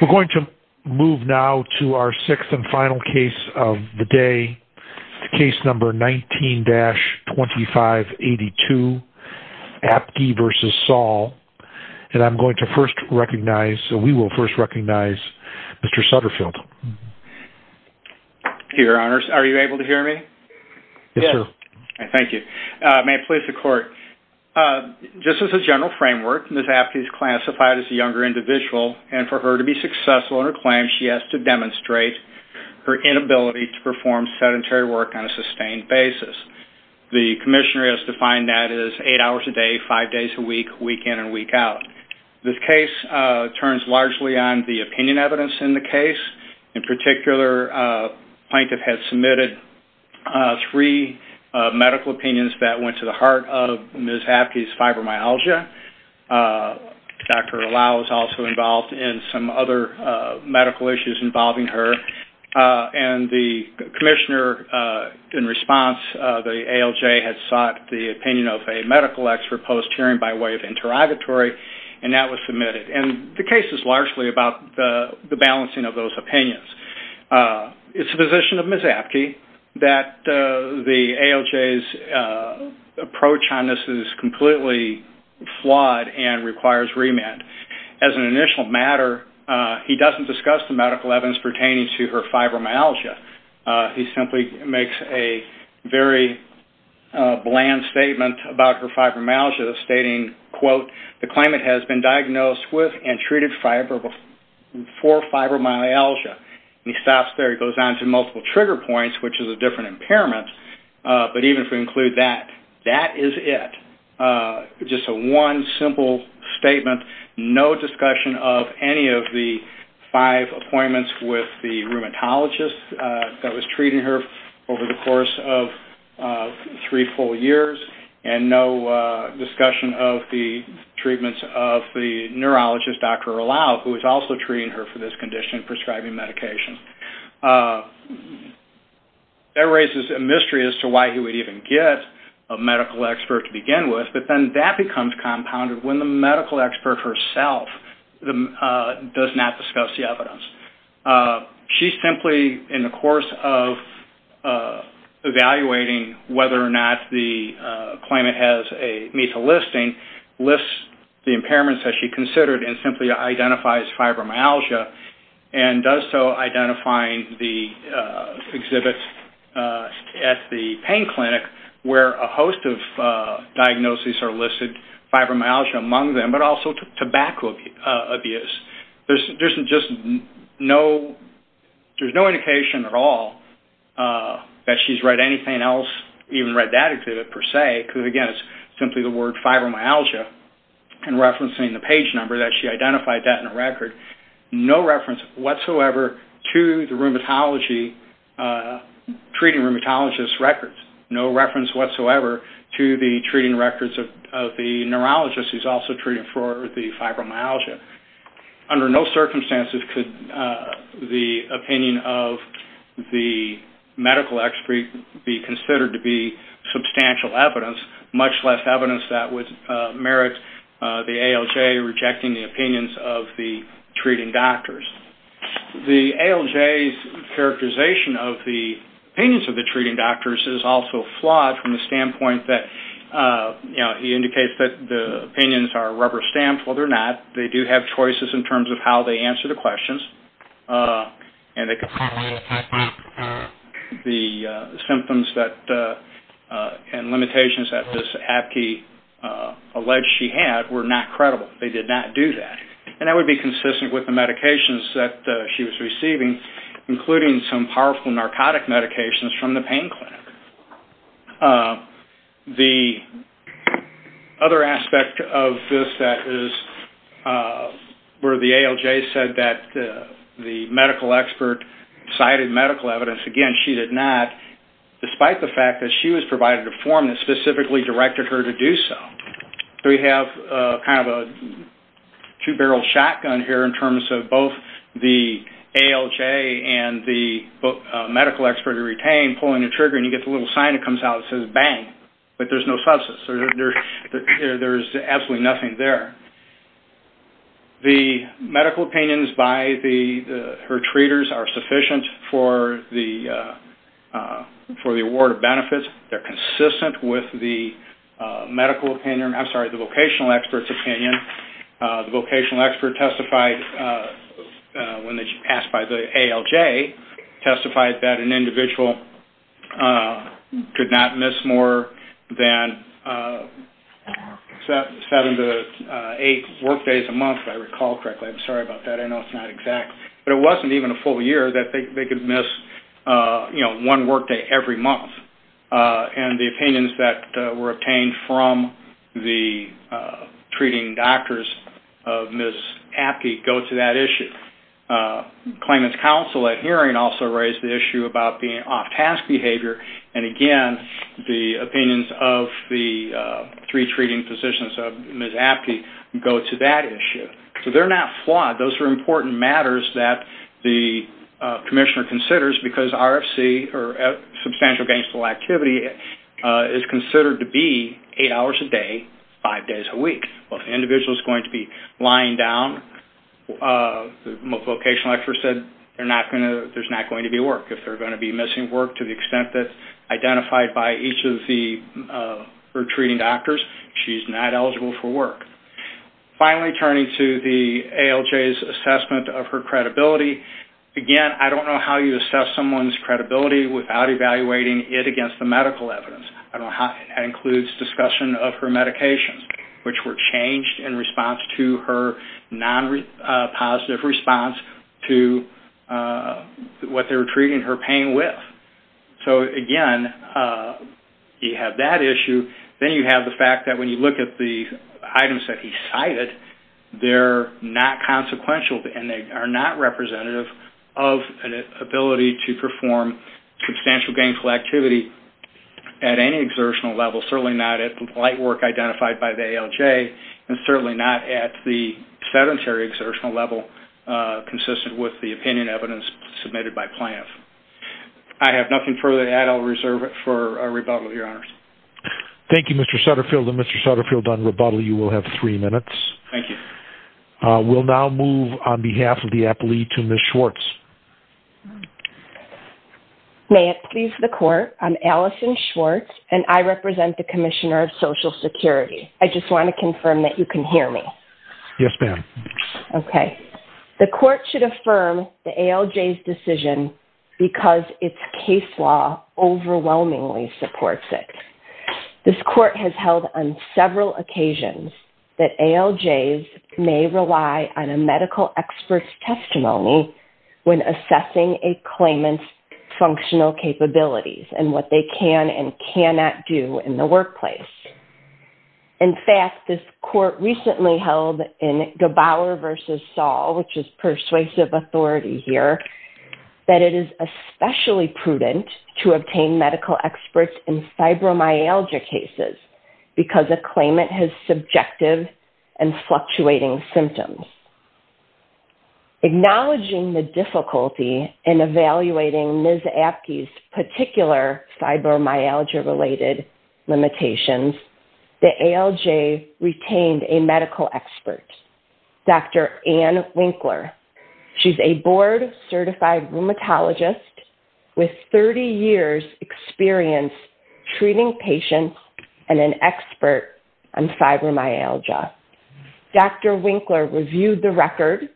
We're going to move now to our sixth and final case of the day, case number 19-2582, Apke v. Saul, and I'm going to first recognize, we will first recognize, Mr. Sutterfield. Your Honors, are you able to hear me? Yes, sir. Thank you. May it please the Court, just as a general framework, Ms. Apke is classified as a younger individual, and for her to be successful in her claim, she has to demonstrate her inability to perform sedentary work on a sustained basis. The Commissioner has defined that as eight hours a day, five days a week, week in and week out. This case turns largely on the opinion evidence in the case. In particular, a plaintiff has submitted three medical opinions that went to the heart of Ms. Apke's fibromyalgia. Dr. Allow is also involved in some other medical issues involving her, and the Commissioner, in response, the ALJ, has sought the opinion of a medical expert post-hearing by way of interrogatory, and that was submitted. And the case is largely about the balancing of those opinions. It's the position of Ms. Apke that the ALJ's approach on this is completely flawed and requires remand. As an initial matter, he doesn't discuss the medical evidence pertaining to her fibromyalgia. He simply makes a very bland statement about her fibromyalgia, stating, quote, the claimant has been diagnosed with and treated for fibromyalgia. And he stops there. He goes on to multiple trigger points, which is a different impairment, but even if we include that, that is it. Just a one simple statement, no discussion of any of the five appointments with the rheumatologist that was treating her over the course of three full years, and no discussion of the treatments of the neurologist, Dr. Allow, who was also treating her for this condition, prescribing medication. That raises a mystery as to why he would even get a medical expert to begin with, but then that becomes compounded when the medical expert herself does not discuss the evidence. She simply, in the course of evaluating whether or not the claimant has a MESA listing, lists the impairments that she considered and simply identifies fibromyalgia, and does so identifying the exhibit at the pain clinic where a host of diagnoses are listed, fibromyalgia among them, but also tobacco abuse. There's no indication at all that she's read anything else, even read that exhibit per se, because, again, it's simply the word fibromyalgia, and referencing the page number that she identified that in the record, no reference whatsoever to the treating rheumatologist's records. No reference whatsoever to the treating records of the neurologist who's also treating for the fibromyalgia. Under no circumstances could the opinion of the medical expert be considered to be substantial evidence, much less evidence that would merit the ALJ rejecting the opinions of the treating doctors. The ALJ's characterization of the opinions of the treating doctors is also flawed from the standpoint that, you know, he indicates that the opinions are rubber-stamped. Well, they're not. They do have choices in terms of how they answer the questions, and the symptoms and limitations that this abbey alleged she had were not credible. They did not do that. And that would be consistent with the medications that she was receiving, including some powerful narcotic medications from the pain clinic. The other aspect of this that is where the ALJ said that the medical expert cited medical evidence. Again, she did not, despite the fact that she was provided a form that specifically directed her to do so. We have kind of a two-barrel shotgun here in terms of both the ALJ and the medical expert who retained pulling the trigger, and you get the little sign that comes out that says, bang. But there's no substance. There's absolutely nothing there. The medical opinions by her treaters are sufficient for the award of benefits. They're consistent with the medical opinion. I'm sorry, the vocational expert's opinion. The vocational expert testified when she passed by the ALJ, testified that an individual could not miss more than seven to eight workdays a month, if I recall correctly. I'm sorry about that. I know it's not exact. But it wasn't even a full year that they could miss, you know, one workday every month. And the opinions that were obtained from the treating doctors of Ms. Apte go to that issue. Claimant's counsel at hearing also raised the issue about being off-task behavior, and again, the opinions of the three treating physicians of Ms. Apte go to that issue. So they're not flawed. Those are important matters that the commissioner considers because RFC, or substantial gainful activity, is considered to be eight hours a day, five days a week. Well, if an individual's going to be lying down, the vocational expert said there's not going to be work. If they're going to be missing work to the extent that's identified by each of the retreating doctors, she's not eligible for work. Finally, turning to the ALJ's assessment of her credibility, again, I don't know how you assess someone's credibility without evaluating it against the medical evidence. I don't know how that includes discussion of her medications, which were changed in response to her non-positive response to what they were treating her pain with. Again, you have that issue. Then you have the fact that when you look at the items that he cited, they're not consequential, and they are not representative of an ability to perform substantial gainful activity at any exertional level, certainly not at the light work identified by the ALJ, and certainly not at the sedentary exertional level consistent with the opinion evidence submitted by plaintiffs. I have nothing further to add. I'll reserve it for rebuttal, Your Honors. Thank you, Mr. Sutterfield. Mr. Sutterfield, on rebuttal, you will have three minutes. Thank you. We'll now move on behalf of the appellee to Ms. Schwartz. May it please the Court, I'm Allison Schwartz, and I represent the Commissioner of Social Security. I just want to confirm that you can hear me. Yes, ma'am. Okay. The Court should affirm the ALJ's decision because its case law overwhelmingly supports it. This Court has held on several occasions that ALJs may rely on a medical expert's testimony when assessing a claimant's functional capabilities and what they can and cannot do in the workplace. In fact, this Court recently held in Gebauer v. Saul, which is persuasive authority here, that it is especially prudent to obtain medical experts in fibromyalgia cases because a claimant has subjective and fluctuating symptoms. Acknowledging the difficulty in evaluating Ms. Apke's particular fibromyalgia-related limitations, the ALJ retained a medical expert, Dr. Ann Winkler. She's a board-certified rheumatologist with 30 years' experience treating patients and an expert on fibromyalgia. Dr. Winkler reviewed the record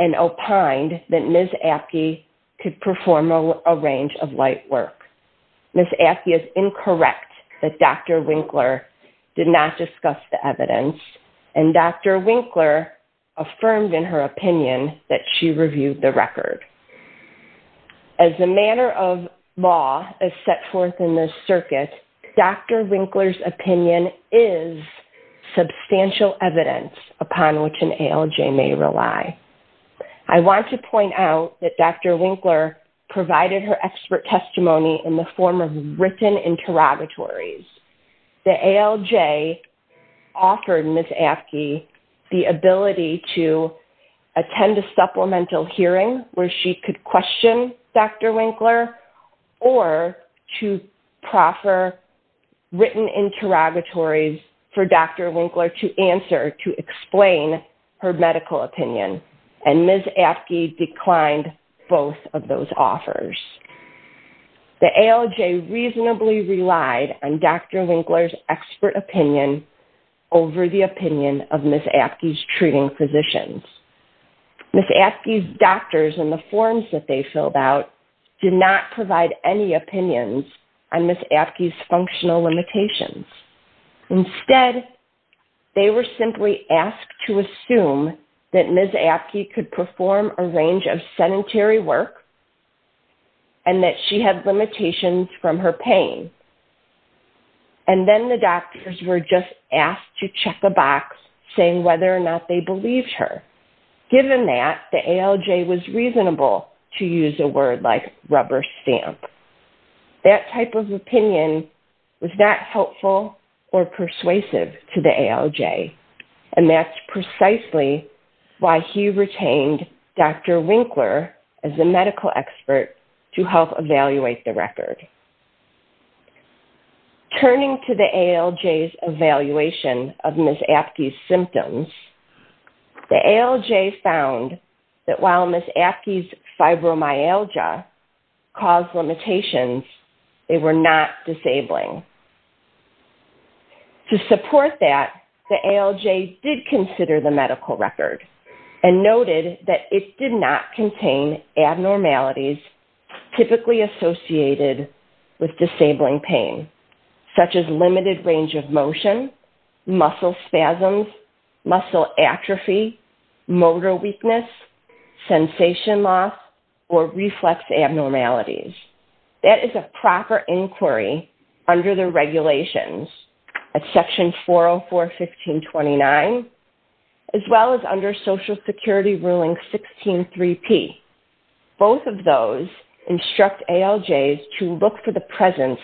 and opined that Ms. Apke could perform a range of light work. Ms. Apke is incorrect that Dr. Winkler did not discuss the evidence, and Dr. Winkler affirmed in her opinion that she reviewed the record. As the manner of law is set forth in this circuit, Dr. Winkler's opinion is substantial evidence upon which an ALJ may rely. I want to point out that Dr. Winkler provided her expert testimony in the form of written interrogatories. The ALJ offered Ms. Apke the ability to attend a supplemental hearing where she could question Dr. Winkler or to proffer written interrogatories for Dr. Winkler to answer to explain her medical opinion, and Ms. Apke declined both of those offers. The ALJ reasonably relied on Dr. Winkler's expert opinion over the opinion of Ms. Apke's treating physicians. Ms. Apke's doctors and the forms that they filled out did not provide any opinions on Ms. Apke's functional limitations. Instead, they were simply asked to assume that Ms. Apke could perform a range of sedentary work and that she had limitations from her pain. And then the doctors were just asked to check a box saying whether or not they believed her. Given that, the ALJ was reasonable to use a word like rubber stamp. That type of opinion was not helpful or persuasive to the ALJ, and that's precisely why he retained Dr. Winkler as a medical expert to help evaluate the record. Turning to the ALJ's evaluation of Ms. Apke's symptoms, the ALJ found that while Ms. Apke's fibromyalgia caused limitations, they were not disabling. To support that, the ALJ did consider the medical record and noted that it did not contain abnormalities typically associated with disabling pain, such as limited range of motion, muscle spasms, muscle atrophy, motor weakness, sensation loss, or reflex abnormalities. That is a proper inquiry under the regulations at Section 404.15.29, as well as under Social Security Ruling 16.3.P. Both of those instruct ALJs to look for the presence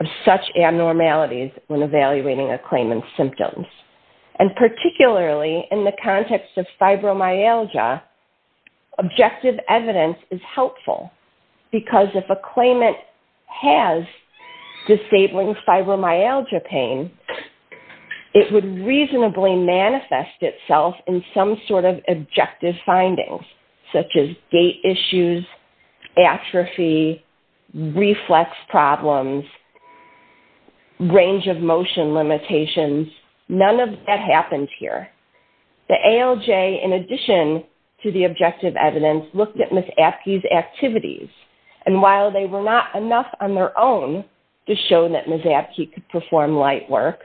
of such abnormalities when evaluating a claimant's symptoms. Particularly in the context of fibromyalgia, objective evidence is helpful because if a claimant has disabling fibromyalgia pain, it would reasonably manifest itself in some sort of objective findings, such as gait issues, atrophy, reflex problems, range of motion limitations. None of that happens here. The ALJ, in addition to the objective evidence, looked at Ms. Apke's activities. While they were not enough on their own to show that Ms. Apke could perform light work,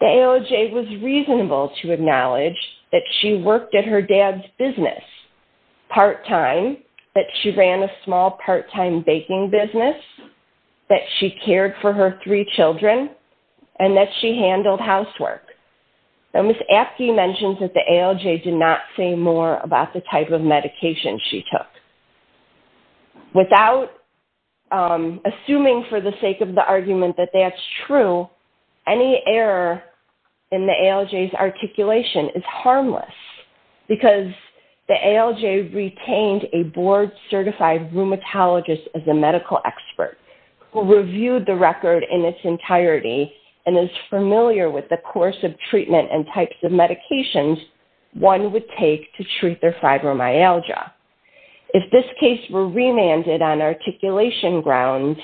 the ALJ was reasonable to acknowledge that she worked at her dad's business part-time, that she ran a small part-time baking business, that she cared for her three children, and that she handled housework. Ms. Apke mentions that the ALJ did not say more about the type of medication she took. Without assuming for the sake of the argument that that's true, any error in the ALJ's articulation is harmless because the ALJ retained a board-certified rheumatologist as a medical expert who reviewed the record in its entirety and is familiar with the course of treatment and types of medications one would take to treat their fibromyalgia. If this case were remanded on articulation grounds,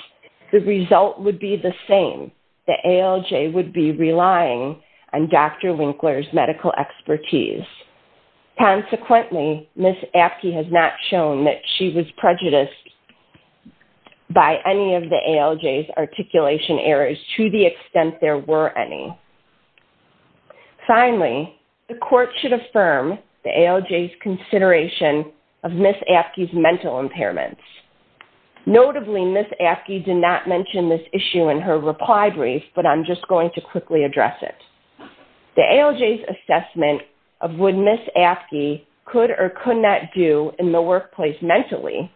the result would be the same. The ALJ would be relying on Dr. Winkler's medical expertise. Consequently, Ms. Apke has not shown that she was prejudiced by any of the ALJ's articulation errors to the extent there were any. Finally, the court should affirm the ALJ's consideration of Ms. Apke's mental impairments. Notably, Ms. Apke did not mention this issue in her reply brief, but I'm just going to quickly address it. The ALJ's assessment of what Ms. Apke could or could not do in the workplace mentally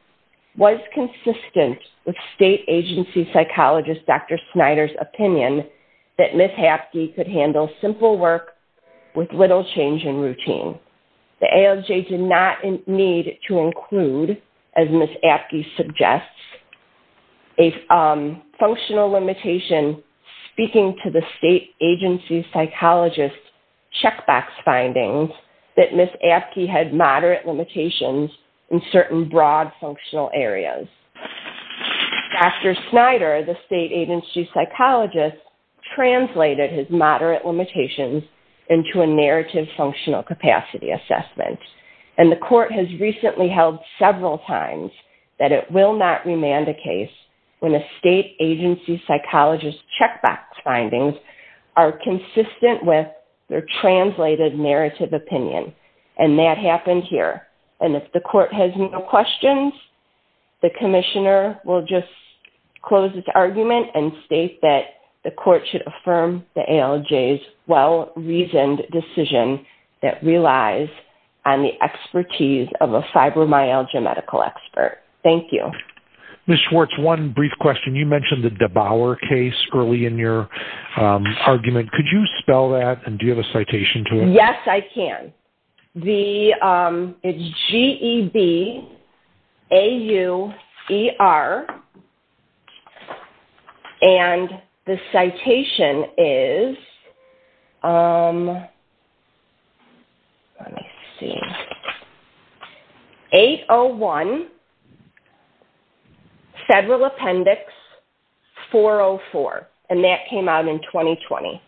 was consistent with state agency psychologist Dr. Snyder's opinion that Ms. Apke could handle simple work with little change in routine. The ALJ did not need to include, as Ms. Apke suggests, a functional limitation speaking to the state agency psychologist's checkbox findings that Ms. Apke had moderate limitations in certain broad functional areas. Dr. Snyder, the state agency psychologist, translated his moderate limitations into a narrative functional capacity assessment. The court has recently held several times that it will not remand a case when a state agency psychologist's checkbox findings are consistent with their translated narrative opinion. And that happened here. And if the court has no questions, the commissioner will just close this argument and state that the court should affirm the ALJ's well-reasoned decision that relies on the expertise of a fibromyalgia medical expert. Thank you. Ms. Schwartz, one brief question. You mentioned the DeBauer case early in your argument. Could you spell that and do you have a citation to it? Yes, I can. It's G-E-B-A-U-E-R, and the citation is 801 Federal Appendix 404. And that came out in 2020.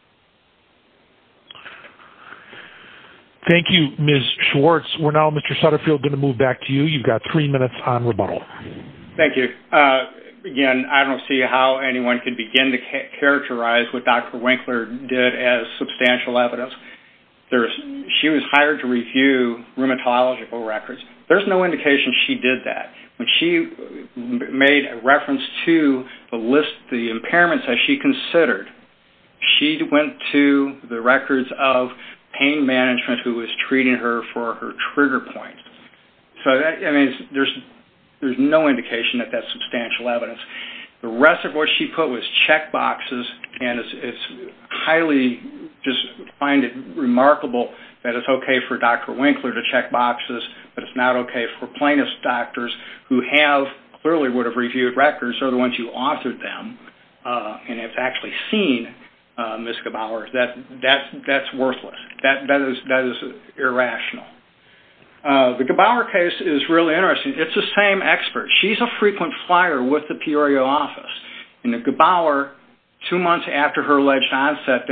Thank you, Ms. Schwartz. We're now, Mr. Sutterfield, going to move back to you. You've got three minutes on rebuttal. Thank you. Again, I don't see how anyone can begin to characterize what Dr. Winkler did as substantial evidence. She was hired to review rheumatological records. There's no indication she did that. When she made a reference to the list of impairments that she considered, she went to the records of pain management who was treating her for her trigger point. So, I mean, there's no indication that that's substantial evidence. The rest of what she put was check boxes, and I just find it remarkable that it's okay for Dr. Winkler to check boxes, but it's not okay for plaintiff's doctors who clearly would have reviewed records or the ones who authored them and have actually seen Ms. Gebauer. That's worthless. That is irrational. The Gebauer case is really interesting. It's the same expert. She's a frequent flyer with the Peorio office. Two months after her alleged onset,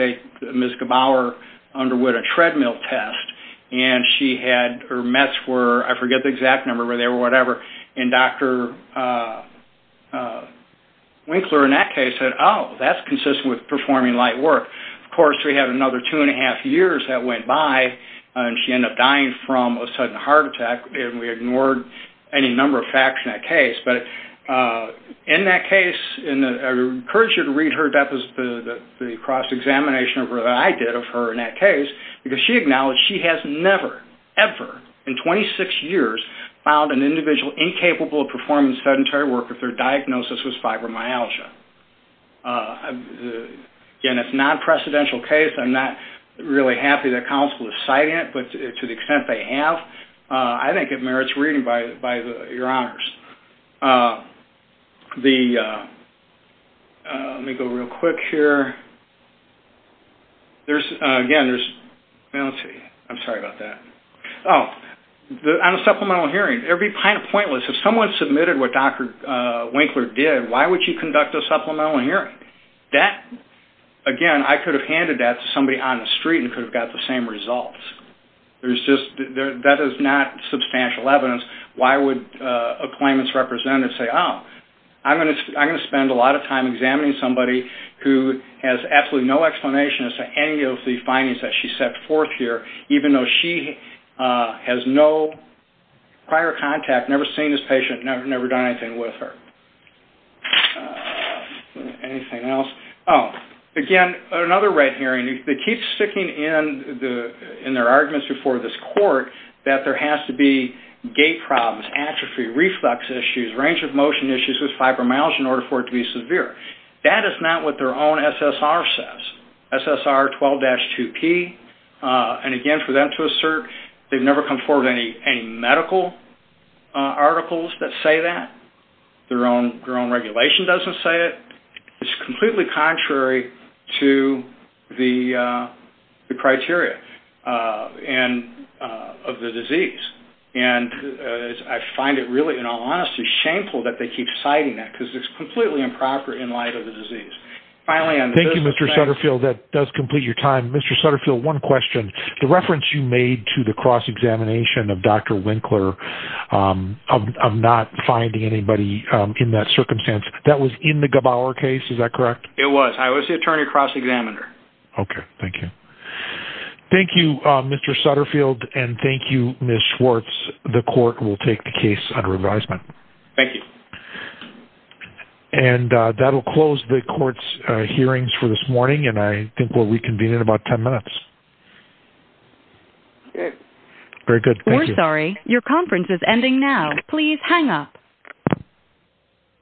Ms. Gebauer underwent a treadmill test, and she had her mets were, I forget the exact number, but they were whatever, and Dr. Winkler in that case said, oh, that's consistent with performing light work. Of course, we have another two and a half years that went by, and she ended up dying from a sudden heart attack, and we ignored any number of facts in that case. But in that case, and I encourage you to read her, that was the cross-examination that I did of her in that case, because she acknowledged she has never, ever in 26 years, found an individual incapable of performing sedentary work if their diagnosis was fibromyalgia. Again, it's a non-precedential case. I'm not really happy that counsel is citing it, but to the extent they have, I think it merits reading by your honors. Let me go real quick here. There's, again, there's, I'm sorry about that. Oh, on a supplemental hearing, it would be kind of pointless. If someone submitted what Dr. Winkler did, why would you conduct a supplemental hearing? That, again, I could have handed that to somebody on the street and could have got the same results. There's just, that is not substantial evidence. Why would a claimant's representative say, oh, I'm going to spend a lot of time examining somebody who has absolutely no explanation as to any of the findings that she set forth here, even though she has no prior contact, never seen this patient, never done anything with her? Anything else? Oh, again, another red herring, it keeps sticking in their arguments before this court that there has to be gait problems, atrophy, reflux issues, range of motion issues with fibromyalgia in order for it to be severe. That is not what their own SSR says. SSR 12-2P, and again, for them to assert, they've never come forward with any medical articles that say that. Their own regulation doesn't say it. It's completely contrary to the criteria of the disease. And I find it really, in all honesty, shameful that they keep citing that because it's completely improper in light of the disease. Thank you, Mr. Sutterfield. That does complete your time. Mr. Sutterfield, one question. The reference you made to the cross-examination of Dr. Winkler of not finding anybody in that circumstance, that was in the Gebauer case, is that correct? It was. I was the attorney cross-examiner. Okay, thank you. Thank you, Mr. Sutterfield, and thank you, Ms. Schwartz. The court will take the case under advisement. Thank you. And that will close the court's hearings for this morning, and I think we'll reconvene in about 10 minutes. Very good. We're sorry. Your conference is ending now. Please hang up.